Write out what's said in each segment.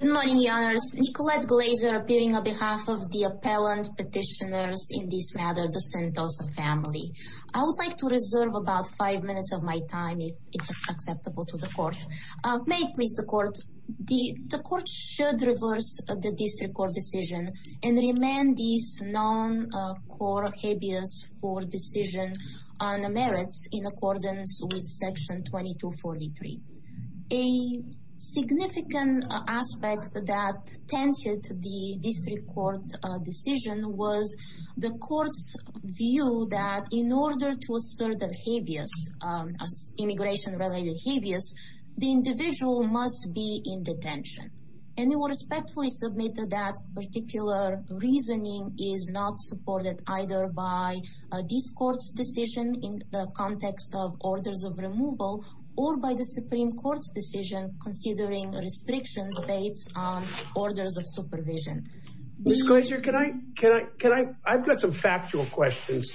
Good morning, your honors. Nicolette Glaser appearing on behalf of the appellant petitioners in this matter the Sentosa family. I would like to reserve about five minutes of my time if it's acceptable to the court. May it please the court. The court should reverse the district court decision and remand these non-court habeas for decision on the merits in accordance with section 2243. A significant aspect that tensed the district court decision was the court's view that in order to assert the habeas, immigration related habeas, the individual must be in detention. And it was respectfully submitted that particular reasoning is not supported either by this court's decision in the Supreme Court's decision considering restrictions based on orders of supervision. Ms. Glaser, can I, can I, can I, I've got some factual questions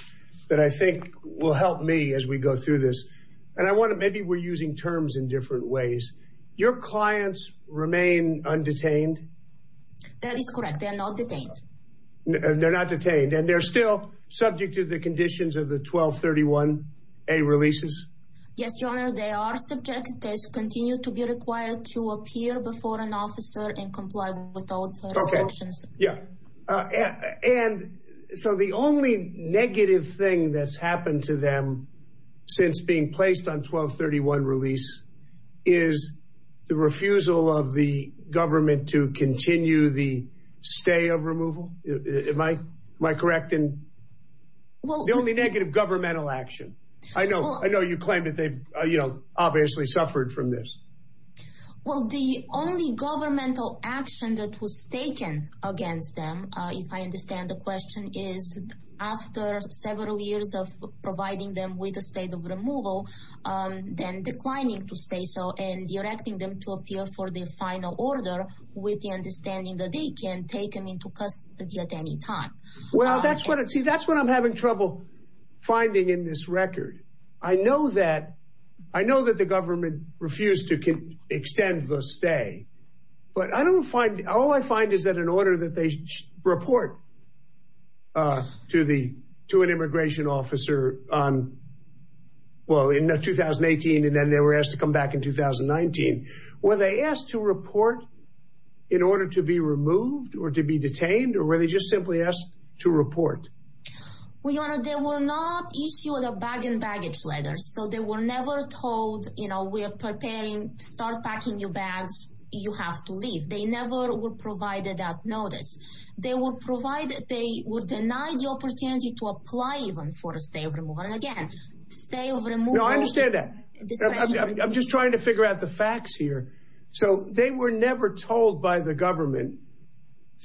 that I think will help me as we go through this and I want to maybe we're using terms in different ways. Your clients remain undetained? That is correct, they are not detained. They're not detained and they're still subject to the conditions of the 1231A releases? Yes, your honor, they are subject. They continue to be required to appear before an officer and comply with all the restrictions. Yeah, and so the only negative thing that's happened to them since being placed on 1231 release is the refusal of the government to continue the stay of removal. Am I, am I negative governmental action? I know, I know you claim that they've, you know, obviously suffered from this. Well, the only governmental action that was taken against them, if I understand the question, is after several years of providing them with a state of removal, then declining to stay so and directing them to appear for the final order with the understanding that they can take them into custody at any time. Well, that's what it, see that's what I'm having trouble finding in this record. I know that, I know that the government refused to extend the stay, but I don't find, all I find is that in order that they report to the, to an immigration officer on, well in 2018 and then they were asked to come back in 2019, were they asked to report in order to be Well, Your Honor, they were not issued a bag and baggage letter. So they were never told, you know, we are preparing, start packing your bags, you have to leave. They never were provided that notice. They were provided, they were denied the opportunity to apply even for a stay of removal. And again, stay of removal. No, I understand that. I'm just trying to figure out the facts here. So they were never told by the government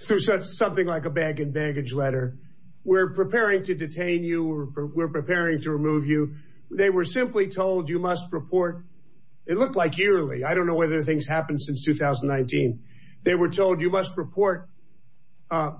through something like a bag and baggage letter, we're preparing to detain you or we're preparing to remove you. They were simply told you must report. It looked like yearly. I don't know whether things happened since 2019. They were told you must report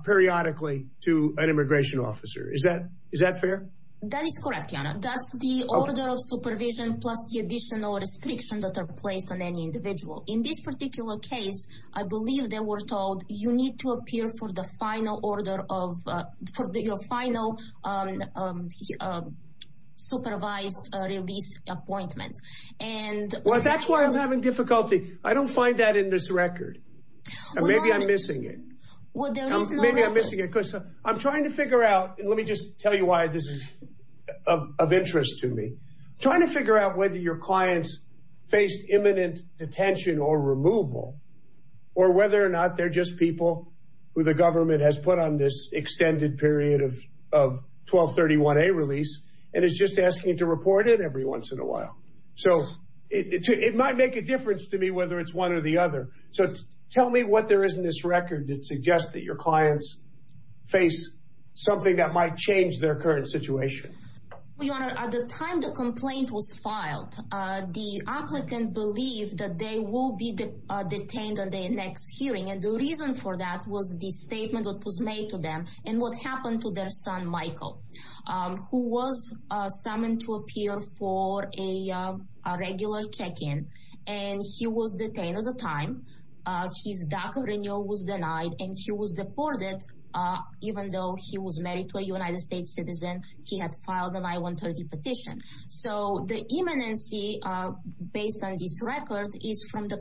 periodically to an immigration officer. Is that, is that fair? That is correct, Your Honor. That's the order of supervision plus the additional restrictions that are placed on any individual. In this particular case, I believe they were told you need to appear for the final order of, for your final supervised release appointment. And... Well, that's why I'm having difficulty. I don't find that in this record. Maybe I'm missing it. Well, there is no record. I'm trying to figure out, and let me just tell you why this is of interest to me, trying to figure out whether your clients faced imminent detention or removal, or whether or not they're just people who the government has put on this extended period of, of 1231A release, and it's just asking to report it every once in a while. So it might make a difference to me whether it's one or the other. So tell me what there is in this record that suggests that your clients face something that might change their current situation. Your Honor, at the time the complaint was filed, the applicant believed that they will be detained on their next hearing and the reason for that was the statement that was made to them and what happened to their son Michael, who was summoned to appear for a regular check-in, and he was detained at the time. His DACA renewal was denied and he was deported even though he was married to a United States citizen. He had filed an I-130 petition. So the imminency based on this record is from the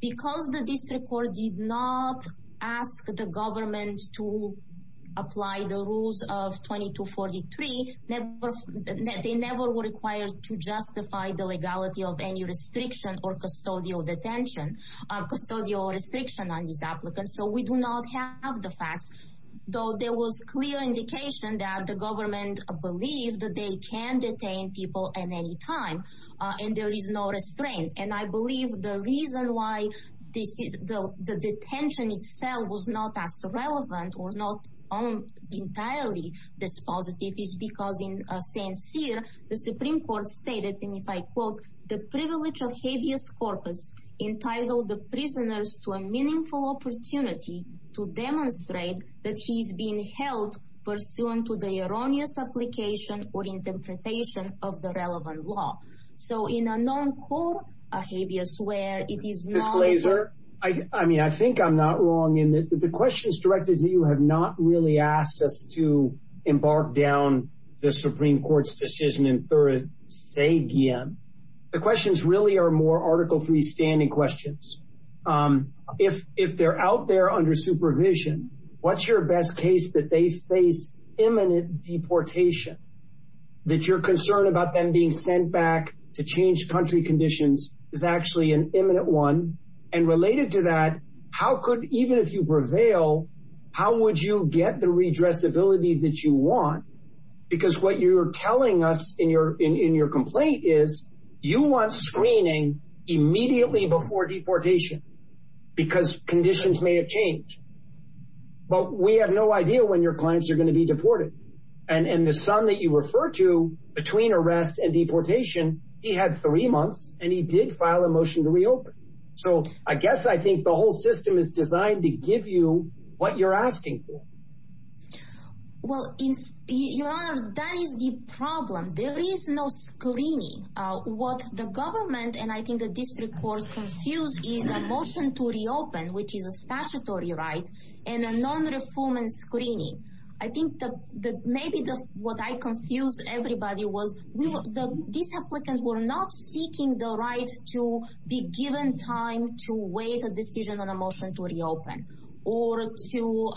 Because the district court did not ask the government to apply the rules of 2243, they never were required to justify the legality of any restriction or custodial detention, custodial restriction on these applicants. So we do not have the facts, though there was clear indication that the government believed that they can detain people at any time, and there is no restraint. And I believe the reason why this is the detention itself was not as relevant or not entirely dispositive is because in Saint Cyr, the Supreme Court stated, and if I quote, the privilege of habeas corpus entitled the prisoners to a meaningful opportunity to demonstrate that he's being held pursuant to the erroneous application or interpretation of the relevant law. So in a non-court, a habeas where it is not laser. I mean, I think I'm not wrong in the questions directed to you have not really asked us to embark down the Supreme Court's decision in third say again, the questions really are more article three standing questions. Um, if if they're out there under supervision, what's your best case that they face imminent deportation that you're concerned about them being sent back to change country conditions is actually an imminent one. And related to that, how could even if you prevail, how would you get the redress ability that you want? Because what you're telling us in your in your complaint is you want screening immediately before deportation because conditions may have changed. But we have no idea when your clients are going to be deported. And the son that you refer to between arrest and deportation, he had three months and he did file a motion to reopen. So I guess I think the whole system is designed to give you what you're asking for. Well, in your honor, that is the problem. There is no screening. What the government and I think the district court confused is a motion to reopen, which is a statutory right and a non reform and screening. I think that maybe the what I confuse everybody was the these applicants were not seeking the right to be given time to weigh the decision on a motion to reopen or to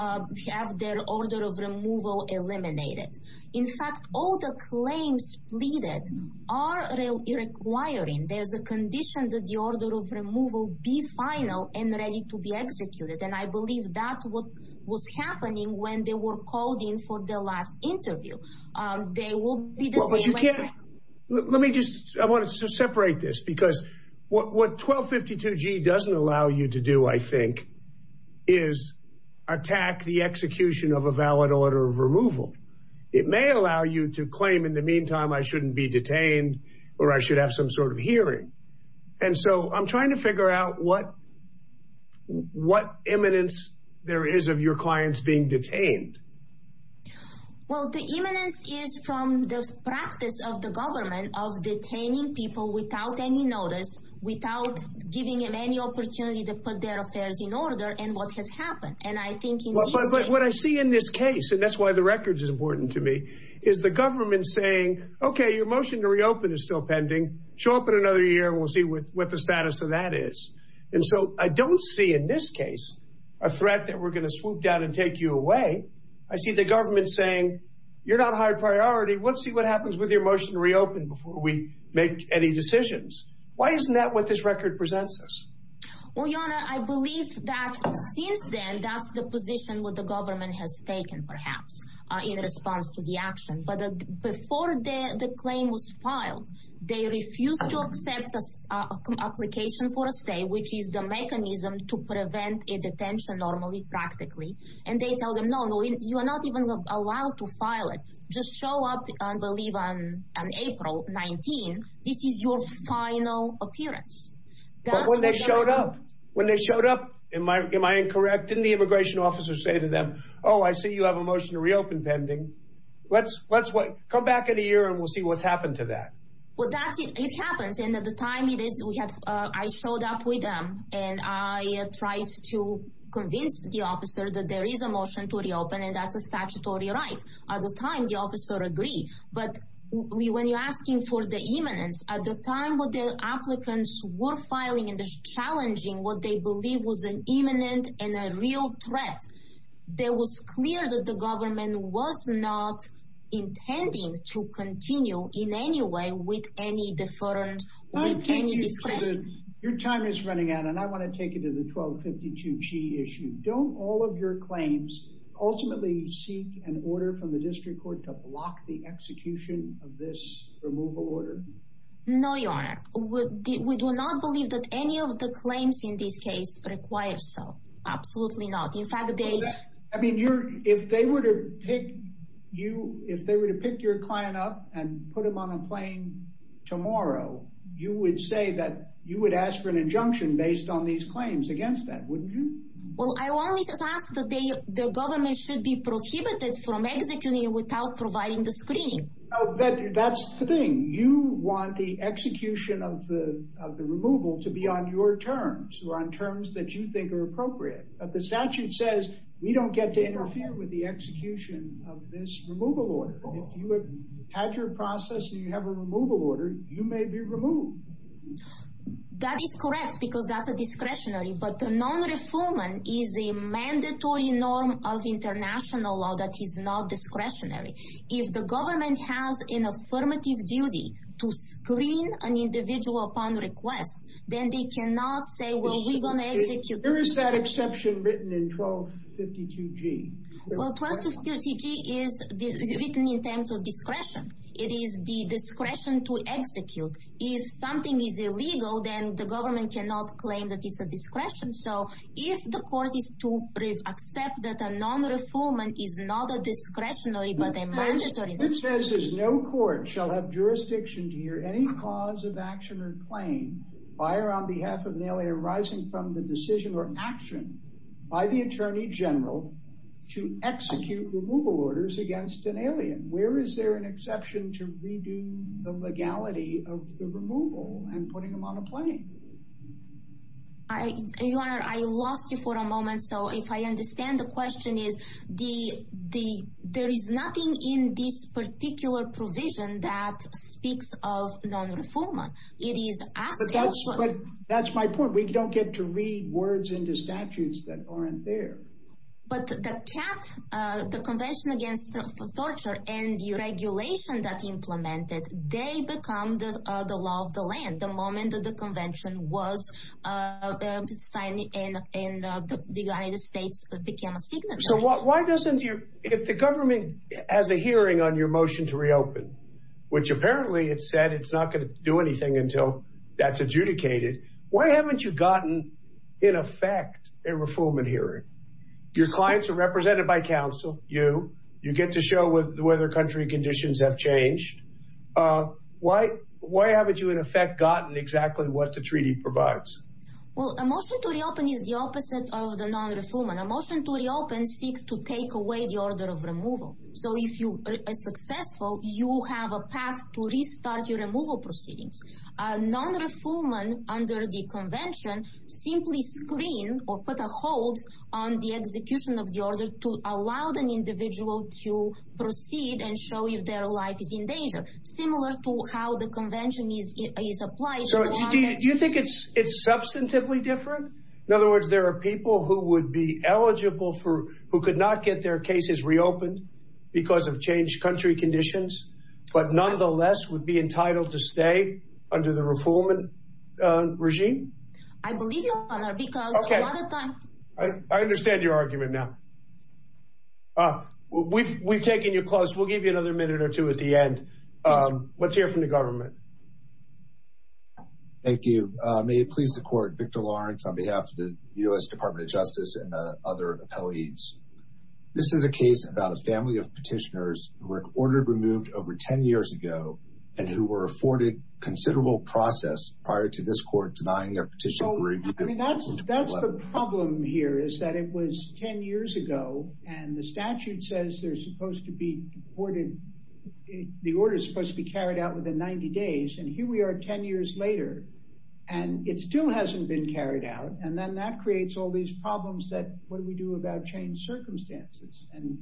have their order of removal eliminated. In fact, all the claims pleaded are requiring there's a condition that the order of removal be final and ready to be executed. And I believe that what was happening when they were called in for the last interview. Um, they will be. Let me just I want to separate this because what 12 52 G doesn't allow you to do, I think, is attack the execution of a valid order of removal. It may allow you to claim. In the meantime, I shouldn't be detained or I should have some sort of hearing. And so I'm trying to figure out what what eminence there is of your clients being detained. Well, the eminence is from the practice of the government of detaining people without any notice, without giving him any opportunity to put their affairs in order and what has happened. And I think what I see in this case, and that's why the records is important to me, is the government saying, Okay, your motion to reopen is still pending. Show up in another year. We'll see what the status of that is. And so I don't see in this case a threat that we're gonna swoop down and take you away. I see the government saying you're not high priority. Let's see what happens with your motion to reopen before we make any decisions. Why isn't that what this record presents us? Well, you know, I believe that since then, that's the position with the government has taken, perhaps in response to the action. But before the claim was filed, they refused to accept the application for a stay, which is the mechanism to prevent a detention normally, practically. And they tell them, No, no, you are not even allowed to file it. Just show up, I believe, on April 19. This is your final appearance. But when they showed up, when they showed up, am I am I incorrect? Didn't the immigration officer say to them, Oh, I see you have a motion to reopen pending. Let's let's come back in a while. That's it. It happens. And at the time it is, we had I showed up with them and I tried to convince the officer that there is a motion to reopen, and that's a statutory right. At the time, the officer agree. But we when you're asking for the eminence at the time with the applicants were filing in this challenging what they believe was an imminent and a real threat, there was clear that the government was not intending to continue in any way with any different. Your time is running out, and I want to take it to the 12 52 G issue. Don't all of your claims ultimately seek an order from the district court to block the execution of this removal order? No, Your Honor, we do not believe that any of the claims in this case requires. So absolutely not. In fact, I mean, you're if they were to take you if they were to pick your client up and put him on a plane tomorrow, you would say that you would ask for an injunction based on these claims against that. Wouldn't you? Well, I only just ask that the government should be prohibited from executing without providing the screening. That's the thing. You want the execution of the removal to be on your terms or on terms that you think are appropriate. But the statute says we don't get to interfere with the execution of this removal order. If you have had your process and you have a removal order, you may be removed. That is correct, because that's a discretionary. But the non reforming is a mandatory norm of international law that is not discretionary. If the government has an affirmative duty to screen an individual upon request, then they cannot say, well, we're going to execute. Where is that exception written in 1252 G? Well, 1252 G is written in terms of discretion. It is the discretion to execute. If something is illegal, then the government cannot claim that it's a discretion. So if the court is to accept that a non reforming is not a discretionary, but a mandatory. The statute says no court shall have jurisdiction to hear any cause of action or claim by or on behalf of an alien arising from the decision or action by the attorney general to execute removal orders against an alien. Where is there an exception to redo the legality of the removal and putting him on a plane? I lost you for a moment. So if I understand the question is the there is nothing in this particular provision that speaks of non reformer. It is asked. But that's my point. We don't get to read words into statutes that aren't there. But the cat, the Convention against Torture and the regulation that implemented, they become the law of the land. The moment that the convention was signed in the United States became a signature. So what? Why doesn't you if the government has a hearing on your motion to reopen, which apparently it said it's not going to do anything until that's adjudicated. Why haven't you gotten in effect a reform in here? Your clients are represented by council. You you get to show with whether country conditions have changed. Uh, why? Why haven't you in effect gotten exactly what the treaty provides? Well, emotion to reopen is the opposite of non reform. An emotion to reopen seeks to take away the order of removal. So if you are successful, you have a path to restart your removal proceedings. Non reformer under the convention simply screen or put a hold on the execution of the order to allow an individual to proceed and show if their life is in danger. Similar to how the convention is is applied. Do you think it's it's substantively different? In other words, there are people who would be eligible for who could not get their cases reopened because of changed country conditions, but nonetheless would be entitled to stay under the reform and regime. I believe because I understand your argument now. Uh, we've we've taken your clothes. We'll give you another minute or two at the end. Um, let's hear from the government. Thank you. May it please the court. Victor Lawrence on behalf of the U. S. Department of Justice and other appellees. This is a case about a family of petitioners who were ordered removed over 10 years ago and who were afforded considerable process prior to this court denying their petition. I mean, that's that's the problem here is that it was 10 years ago, and the statute says they're supposed to be awarded. The order is supposed to be days, and here we are 10 years later, and it still hasn't been carried out. And then that creates all these problems that what we do about change circumstances. And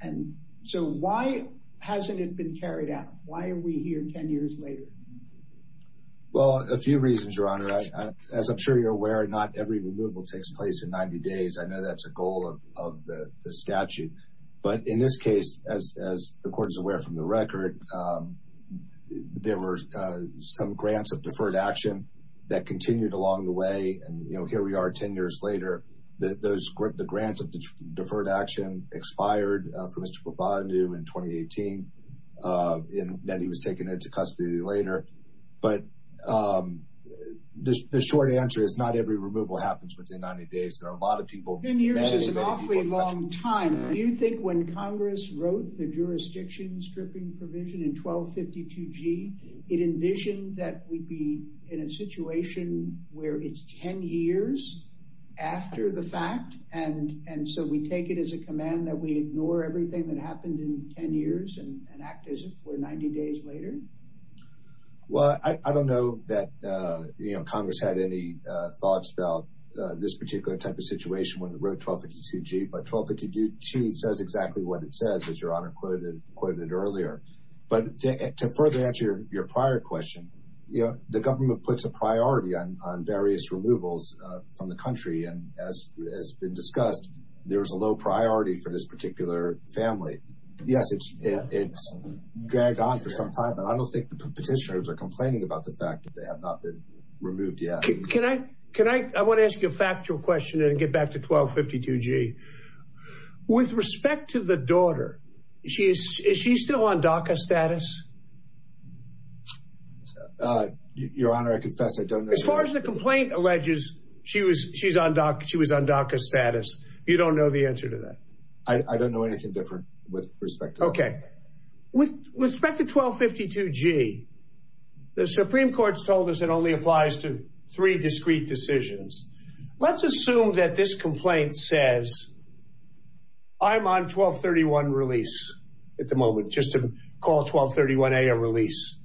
and so why hasn't it been carried out? Why are we here 10 years later? Well, a few reasons, Your Honor. As I'm sure you're aware, not every removal takes place in 90 days. I know that's a goal of the statute. But in this case, as the court is aware from the record, there were some grants of deferred action that continued along the way. And here we are 10 years later, that those the grants of deferred action expired for Mr. Bhandu in 2018. And then he was taken into custody later. But the short answer is not every removal happens within 90 days. There are a lot of people. 10 years is an awfully long time. Do you think when Congress wrote the jurisdiction stripping provision in 1252G, it envisioned that we'd be in a situation where it's 10 years after the fact? And and so we take it as a command that we ignore everything that happened in 10 years and act as if we're 90 days later? Well, I don't know that, you know, Congress had any thoughts about this particular type of situation when it wrote 1252G. But 1252G says exactly what it says, as Your Honor quoted earlier. But to further answer your prior question, you know, the government puts a priority on various removals from the country. And as has been discussed, there's a low priority for this particular family. Yes, it's dragged on for some time. I don't think the petitioners are complaining about the fact that they have not been removed yet. Can I can I want to ask you a factual question and get back to 1252G. With respect to the daughter, is she still on DACA status? Your Honor, I confess I don't know. As far as the complaint alleges she was she's on DACA, she was on DACA status. You don't know the answer to that? I don't know anything different with respect to that. With respect to 1252G, the Supreme Court's told us it only applies to three discrete decisions. Let's assume that this complaint says, I'm on 1231 release at the moment, just to call 1231A a release.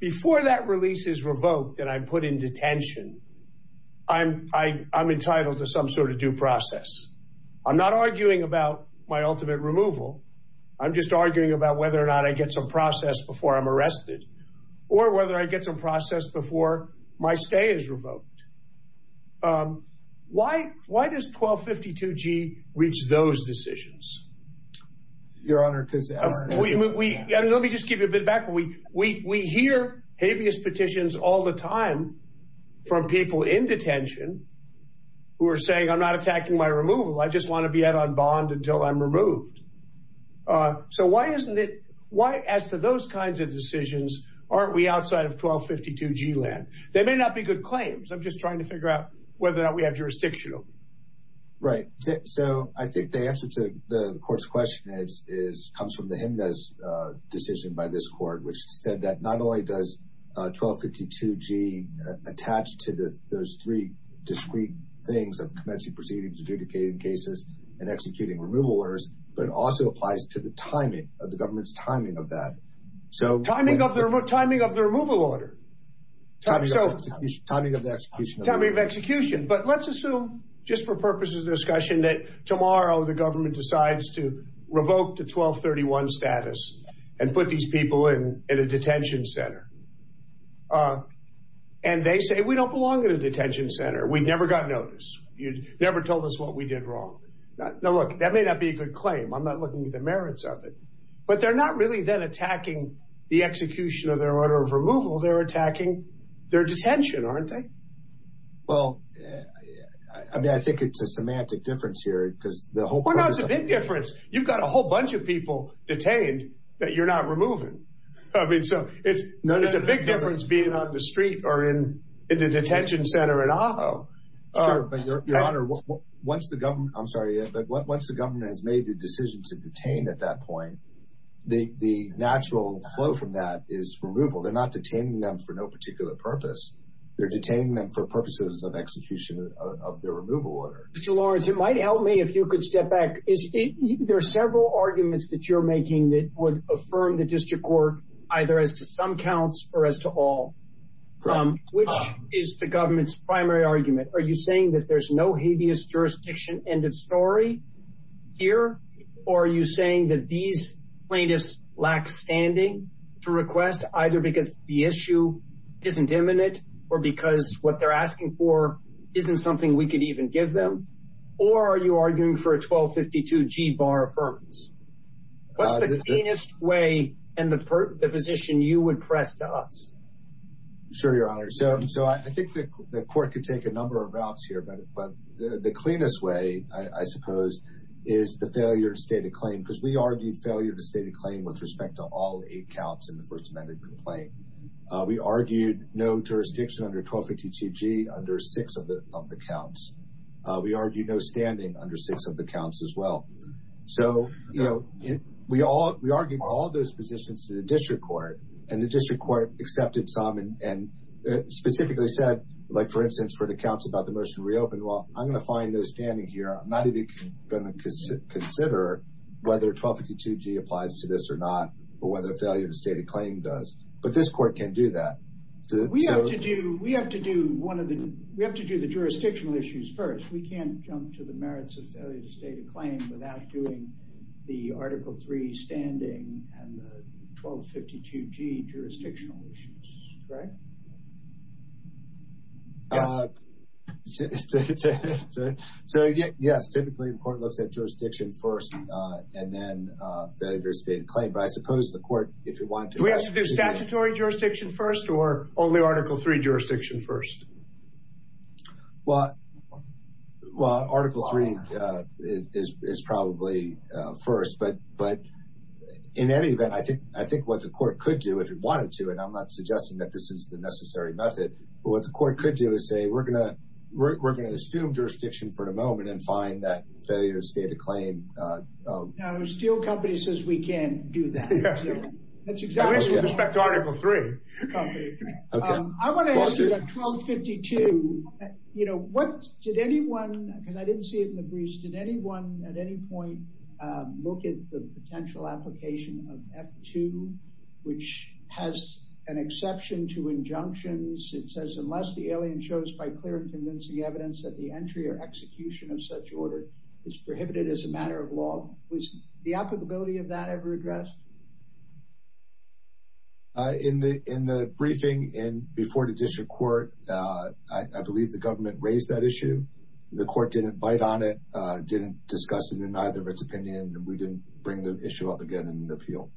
Before that release is revoked and I'm put in detention, I'm entitled to some sort of due process. I'm not I'm just arguing about whether or not I get some process before I'm arrested or whether I get some process before my stay is revoked. Why does 1252G reach those decisions? Your Honor, because... Let me just give you a bit back. We hear habeas petitions all the time from people in detention who are saying, I'm not attacking my removal. I just want to be out on bond until I'm removed. So why isn't it, why as to those kinds of decisions, aren't we outside of 1252G land? They may not be good claims. I'm just trying to figure out whether or not we have jurisdictional. Right. So I think the answer to the court's question is, comes from the Jimenez decision by this court, which said that not only does 1252G attach to those three discrete things of commencing proceedings, adjudicating cases, and executing removal orders, but it also applies to the timing of the government's timing of that. So timing of the removal order. Timing of the execution. But let's assume, just for purposes of discussion, that tomorrow the government decides to revoke the 1231 status and put these people in a detention center. And they say, we don't belong in a detention center. We never got noticed. You never told us what we did wrong. Now, look, that may not be a good claim. I'm not looking at the merits of it, but they're not really then attacking the execution of their order of removal. They're attacking their detention, aren't they? Well, I mean, I think it's a semantic difference here because the whole- Well, no, it's a big difference. You've got a whole bunch of people detained that you're not removing. I mean, so it's a big difference being on the street or in the detention center in Ajo. Sure, but Your Honor, once the government, I'm sorry, but once the government has made the decision to detain at that point, the natural flow from that is removal. They're not detaining them for no particular purpose. They're detaining them for purposes of execution of their removal order. Mr. Lawrence, it might help me if you could step back. There are several arguments that you're making that would affirm the district court either as to some counts or as to all. Which is the government's primary argument? Are you saying that there's no habeas jurisdiction end of story here, or are you saying that these plaintiffs lack standing to request either because the issue isn't imminent or because what they're asking for isn't something we could even give them, or are you arguing for a 1252 G-bar affirmance? What's the cleanest way and the position you would press to us? Sure, Your Honor. So I think the court could take a number of routes here, but the cleanest way, I suppose, is the failure to state a claim because we argued failure to state a claim with respect to all eight counts in the First Amendment complaint. We argued no jurisdiction under 1252 G under six of the counts. We argued no standing under six of the counts as well. So, you know, we argued all those positions to the district court, and the district court accepted some and specifically said, like, for instance, for the counts about the motion to reopen, well, I'm going to find no standing here, I'm not even going to consider whether 1252 G applies to this or not, or whether a failure to state a claim does, but this court can do that. We have to do the jurisdictional issues first. We can't jump to the merits of failure to state a claim without doing the Article 3 standing and the 1252 G jurisdictional issues, correct? So, yes, typically the court looks at jurisdiction first and then failure to state a claim, but I suppose the court, if you want to- Do we have to do statutory jurisdiction first or only Article 3 jurisdiction first? Well, Article 3 is probably first, but in any event, I think what the court could do if it wanted to, and I'm not suggesting that this is the necessary method, but what the court could do is say, we're going to assume jurisdiction for a moment and find that failure to state a claim. Now, the steel company says we can't do that. That's exactly right. At least with respect to Article 3. Okay. I want to ask you about 1252, you know, what did anyone, because I didn't see it in the briefs, did anyone at any point look at the potential application of F2, which has an exception to injunctions? It says, unless the alien shows by clear and convincing evidence that the entry or execution of such order is prohibited as a matter of law, was the applicability of that ever addressed? In the briefing and before the district court, I believe the government raised that issue and the court didn't bite on it, didn't discuss it in either of its opinion, and we didn't bring the issue up again in an appeal.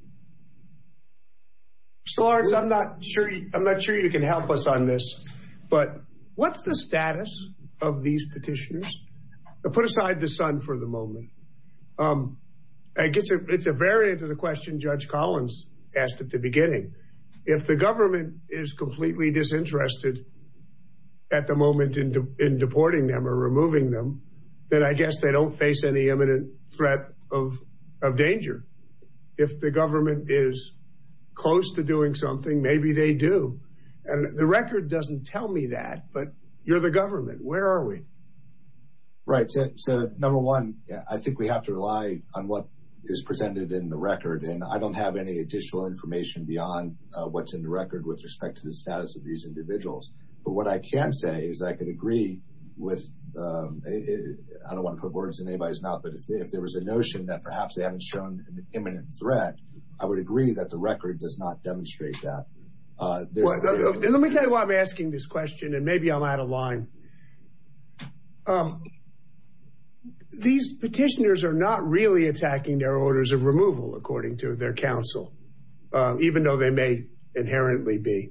Mr. Lawrence, I'm not sure you can help us on this, but what's the status of these petitioners? Put aside the son for the moment. I guess it's a variant of the question Judge Collins asked at the beginning. If the government is completely disinterested at the moment in deporting them or removing them, then I guess they don't face any imminent threat of danger. If the government is close to doing something, maybe they do. And the record doesn't tell me that, but you're the government. Where are we? Right. So number one, I think we have to rely on what is presented in the record. And I don't have any additional information beyond what's in the record with respect to the status of these individuals. But what I can say is I can agree with, I don't want to put words in anybody's mouth, but if there was a notion that perhaps they haven't shown an imminent threat, I would agree that the record does not demonstrate that. Let me tell you why I'm asking this question and maybe I'm out of line. These petitioners are not really attacking their orders of removal, according to their counsel, even though they may inherently be.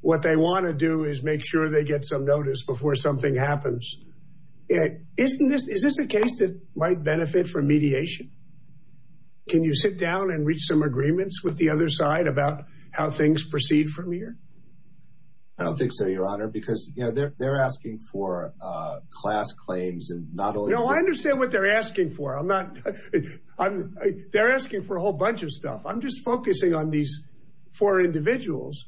What they want to do is make sure they get some notice before something happens. Isn't this, is this a case that might benefit from mediation? Can you sit down and reach some agreements with the other side about how things proceed from here? I don't think so, your honor, because they're asking for class claims and not only- No, I understand what they're asking for. I'm not, they're asking for a whole bunch of stuff. I'm just focusing on these four individuals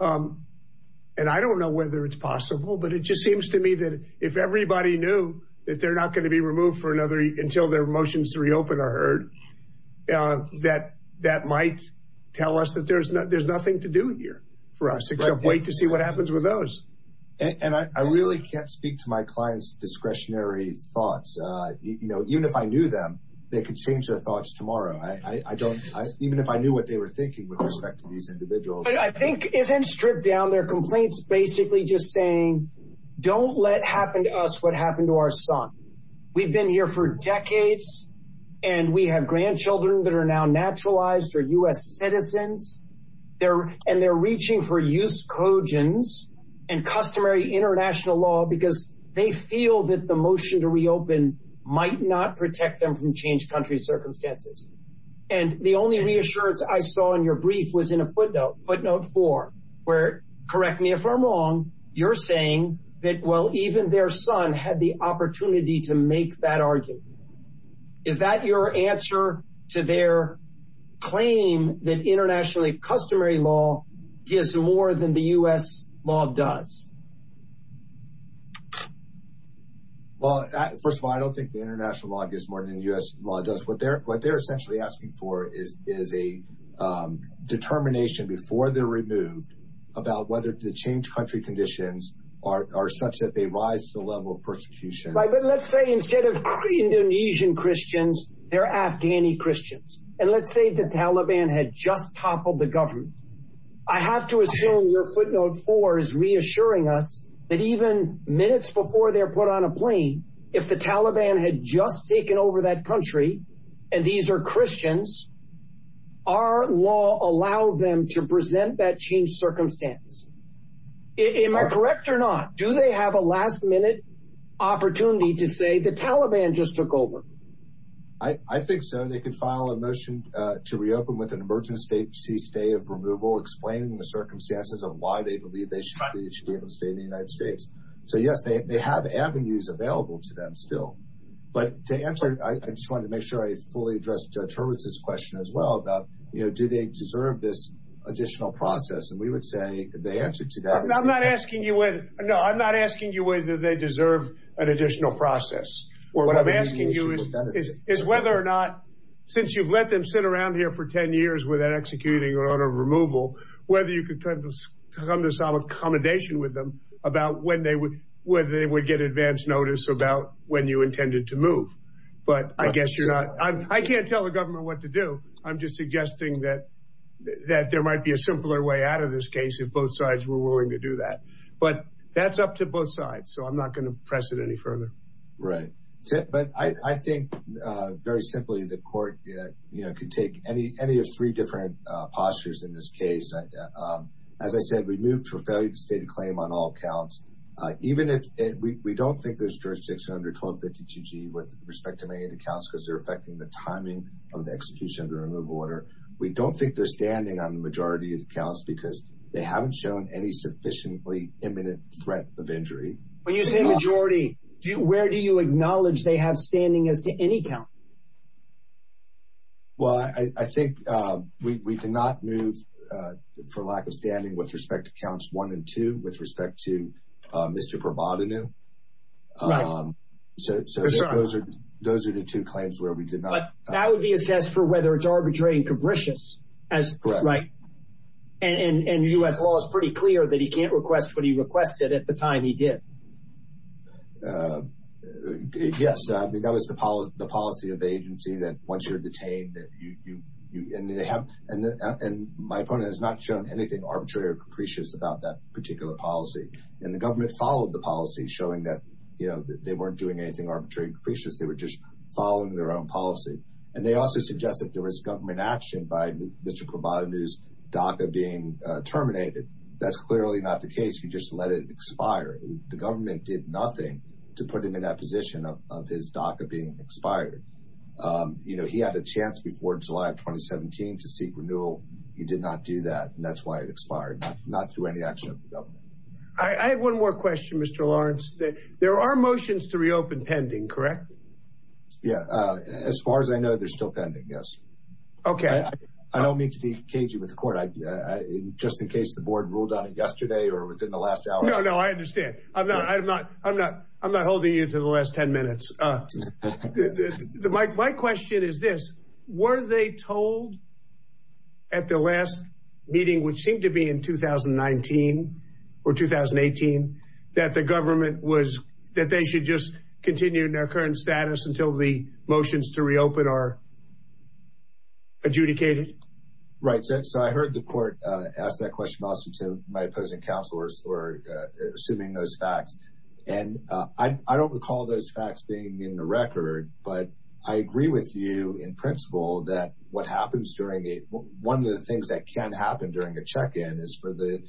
and I don't know whether it's possible, but it just seems to me that if everybody knew that they're not going to be removed for another, until their motions to reopen are heard, that that might tell us that there's nothing to do here for us except wait to see what happens with those. And I really can't speak to my client's discretionary thoughts. You know, even if I knew them, they could change their thoughts tomorrow. I don't, even if I knew what they were thinking with respect to these individuals- I think isn't stripped down. Their complaints basically just saying, don't let happen to us what happened to our son. We've been here for decades and we have grandchildren that are now naturalized or U.S. citizens, and they're reaching for use cogens and customary international law because they feel that the motion to reopen might not protect them from changed country circumstances. And the only reassurance I saw in your brief was in a footnote, footnote four, where, correct me if I'm wrong, you're saying that, well, even their son had the opportunity to make that argument. Is that your answer to their claim that internationally customary law gives more than the U.S. law does? Well, first of all, I don't think the international law gives more than U.S. law does. What they're, what they're essentially asking for is, is a determination before they're removed about whether the changed country conditions are, are such that they rise to the level of persecution. But let's say instead of Indonesian Christians, they're Afghani Christians. And let's say the Taliban had just toppled the government. I have to assume your footnote four is reassuring us that even minutes before they're put on a plane, if the Taliban had just taken over that country and these are Christians, our law allowed them to present that changed circumstance. Am I correct or not? Do they have a last minute opportunity to say the Taliban just took over? I think so. They can file a motion to reopen with an emergency state cease day of removal, explaining the circumstances of why they believe they should be able to stay in the United States. So yes, they have avenues available to them still. But to answer, I just wanted to make sure I fully addressed Judge Hurwitz's question as well about, you know, do they deserve this additional process? And we would say the answer to that is- I'm not asking you whether, no, I'm not asking you whether they deserve an additional process. What I'm asking you is whether or not, since you've let them sit around here for 10 years without executing an order of removal, whether you could come to some accommodation with them about when they would get advance notice about when you intended to move. But I guess you're not, I can't tell the government what to do. I'm just suggesting that there might be a simpler way out of this case if both sides agree to that, but that's up to both sides. So I'm not going to press it any further. Right. But I think very simply the court could take any of three different postures in this case. As I said, we moved for failure to state a claim on all counts, even if we don't think there's jurisdiction under 1252G with respect to many of the counts, because they're affecting the timing of the execution of the removal order. We don't think they're standing on the majority of the counts because they haven't shown any sufficiently imminent threat of injury. When you say majority, where do you acknowledge they have standing as to any count? Well, I think we cannot move for lack of standing with respect to counts one and two with respect to Mr. Provodnino. So those are the two claims where we did not. That would be assessed for whether it's arbitrary and capricious as, right. And U.S. law is pretty clear that he can't request what he requested at the time he did. Yes, I mean, that was the policy of the agency that once you're detained, that you and they have and my opponent has not shown anything arbitrary or capricious about that particular policy. And the government followed the policy showing that, you know, that they weren't doing anything arbitrary and capricious. They were just following their own policy. And they also suggested there was government action by Mr. Provodnino's DACA being terminated. That's clearly not the case. He just let it expire. The government did nothing to put him in that position of his DACA being expired. You know, he had a chance before July of 2017 to seek renewal. He did not do that. And that's why it expired, not through any action of the government. I have one more question, Mr. Lawrence. There are motions to reopen pending, correct? Yeah, as far as I know, they're still pending, yes. Okay. I don't mean to be cagey with the court. I, just in case the board ruled on it yesterday or within the last hour. No, no, I understand. I'm not, I'm not, I'm not, I'm not holding you to the last 10 minutes. My question is this, were they told at the last meeting, which seemed to be in 2019 or 2018, that the government was, that they should just continue in their adjudicated? Right. So, so I heard the court ask that question also to my opposing counselors or assuming those facts. And I don't recall those facts being in the record, but I agree with you in principle that what happens during the, one of the things that can happen during the check-in is for the,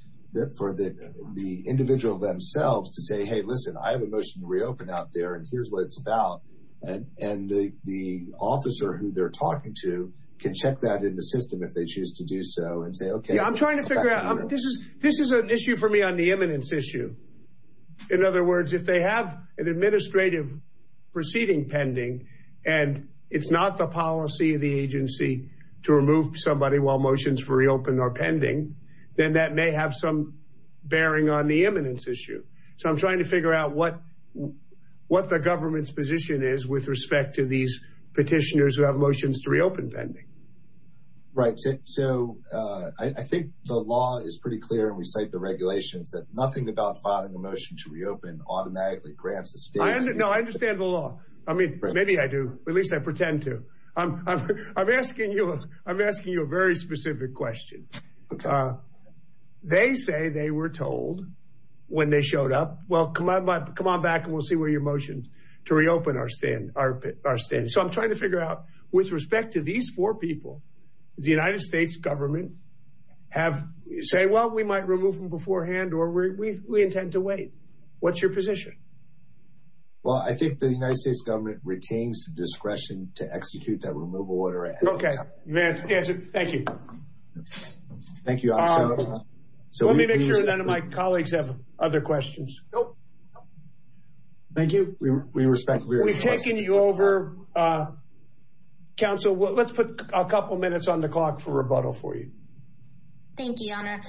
for the, the individual themselves to say, Hey, listen, I have a motion to reopen out there and here's what it's about. And, and the, the officer who they're talking to can check that in the system if they choose to do so and say, okay. I'm trying to figure out, this is, this is an issue for me on the eminence issue. In other words, if they have an administrative proceeding pending and it's not the policy of the agency to remove somebody while motions for reopen are pending, then that may have some bearing on the eminence issue. So I'm trying to figure out what, what the government's position is with respect to these petitioners who have motions to reopen pending. Right. So, so I think the law is pretty clear and we cite the regulations that nothing about filing a motion to reopen automatically grants the state- I understand, no, I understand the law. I mean, maybe I do, at least I pretend to. I'm, I'm, I'm asking you, I'm asking you a very specific question. Uh, they say they were told when they showed up, well, come on, come on back and we'll see where your motion to reopen are stand, are, are standing. So I'm trying to figure out with respect to these four people, the United States government have, say, well, we might remove them beforehand or we, we, we intend to wait, what's your position? Well, I think the United States government retains the discretion to execute that removal order at any time. Okay. Man, thank you. Thank you. So let me make sure none of my colleagues have other questions. Nope. Thank you. We, we respect- We've taken you over, uh, counsel, let's put a couple of minutes on the clock for rebuttal for you. Thank you, Your Honor.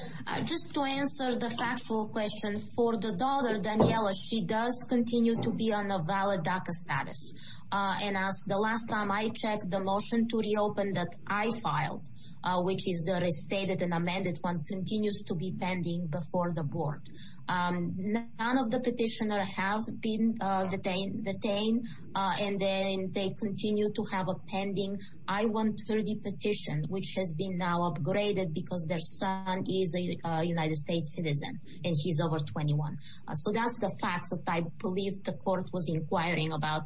Just to answer the factual question for the daughter, Daniela, she does continue to be on a valid DACA status. Uh, and as the last time I checked the motion to reopen that I filed, uh, which is the restated and amended one continues to be pending before the board. Um, none of the petitioner have been, uh, detained, detained. Uh, and then they continue to have a pending I-130 petition, which has been now upgraded because their son is a United States citizen and he's over 21. So that's the facts that I believe the court was inquiring about.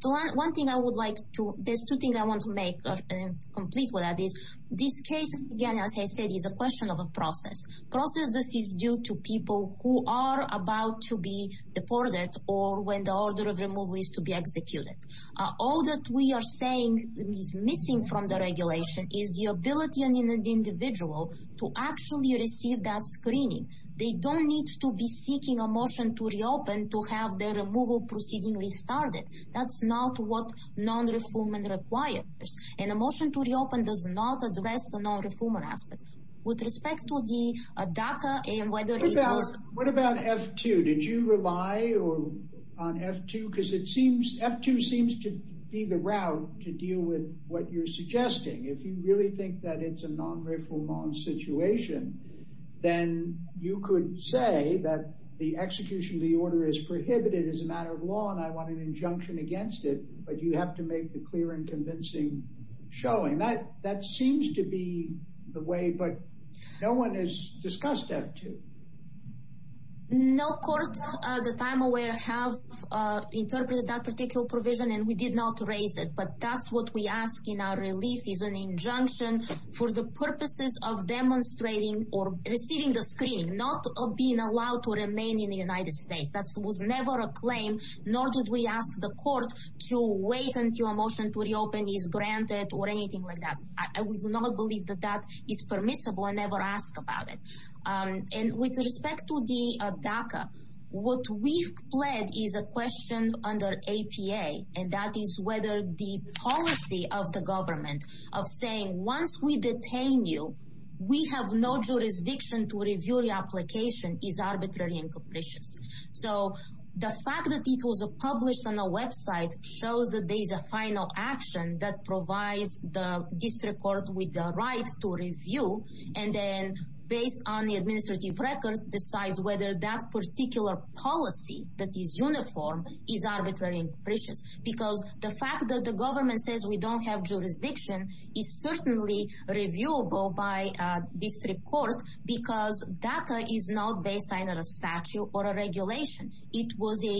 The one thing I would like to, there's two things I want to make complete with that is this case, again, as I said, is a question of a process. Process this is due to people who are about to be deported or when the order of removal is to be executed. Uh, all that we are saying is missing from the regulation is the ability on an individual to actually receive that screening. They don't need to be seeking a motion to reopen, to have their removal proceeding restarted. That's not what non-refoulement requires. And a motion to reopen does not address the non-refoulement aspect. With respect to the DACA and whether it was... What about F2? Did you rely on F2? Cause it seems, F2 seems to be the route to deal with what you're suggesting. If you really think that it's a non-refoulement situation, then you could say that the execution of the order is prohibited as a matter of law. And I want an injunction against it, but you have to make the clear and convincing showing. That, that seems to be the way, but no one has discussed F2. No court that I'm aware of have interpreted that particular provision and we did not raise it. But that's what we ask in our relief is an injunction for the purposes of demonstrating or receiving the screening, not being allowed to remain in the United States, that was never a claim, nor did we ask the court to wait until a motion to reopen is granted or anything like that. I would not believe that that is permissible and never ask about it. And with respect to the DACA, what we've pled is a question under APA. And that is whether the policy of the government of saying, once we detain you, we have no jurisdiction to review the application is arbitrary and capricious. So the fact that it was published on a website shows that there's a final action that provides the district court with the rights to review. And then based on the administrative record decides whether that particular policy that is uniform is arbitrary and capricious because the fact that the government says we don't have jurisdiction is certainly reviewable by a district court, because DACA is not based on a statute or a regulation. It was a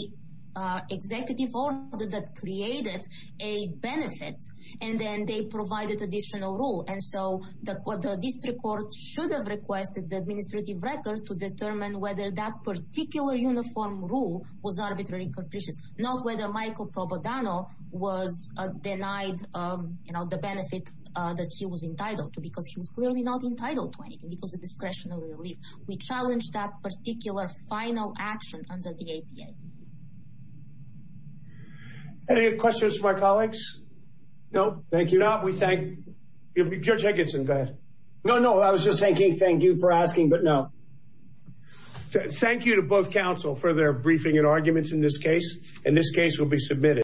executive order that created a benefit and then they provided additional rule. And so the district court should have requested the administrative record to determine whether that particular uniform rule was arbitrary and capricious, not whether Michael Propagano was denied the benefit that he was entitled to, because he was clearly not entitled to anything. It was a discretionary relief. We challenge that particular final action under the APA. Any questions from our colleagues? No, thank you. Now we thank, Judge Higginson, go ahead. No, no. I was just thinking, thank you for asking, but no. Thank you to both counsel for their briefing and arguments in this case. And this case will be submitted.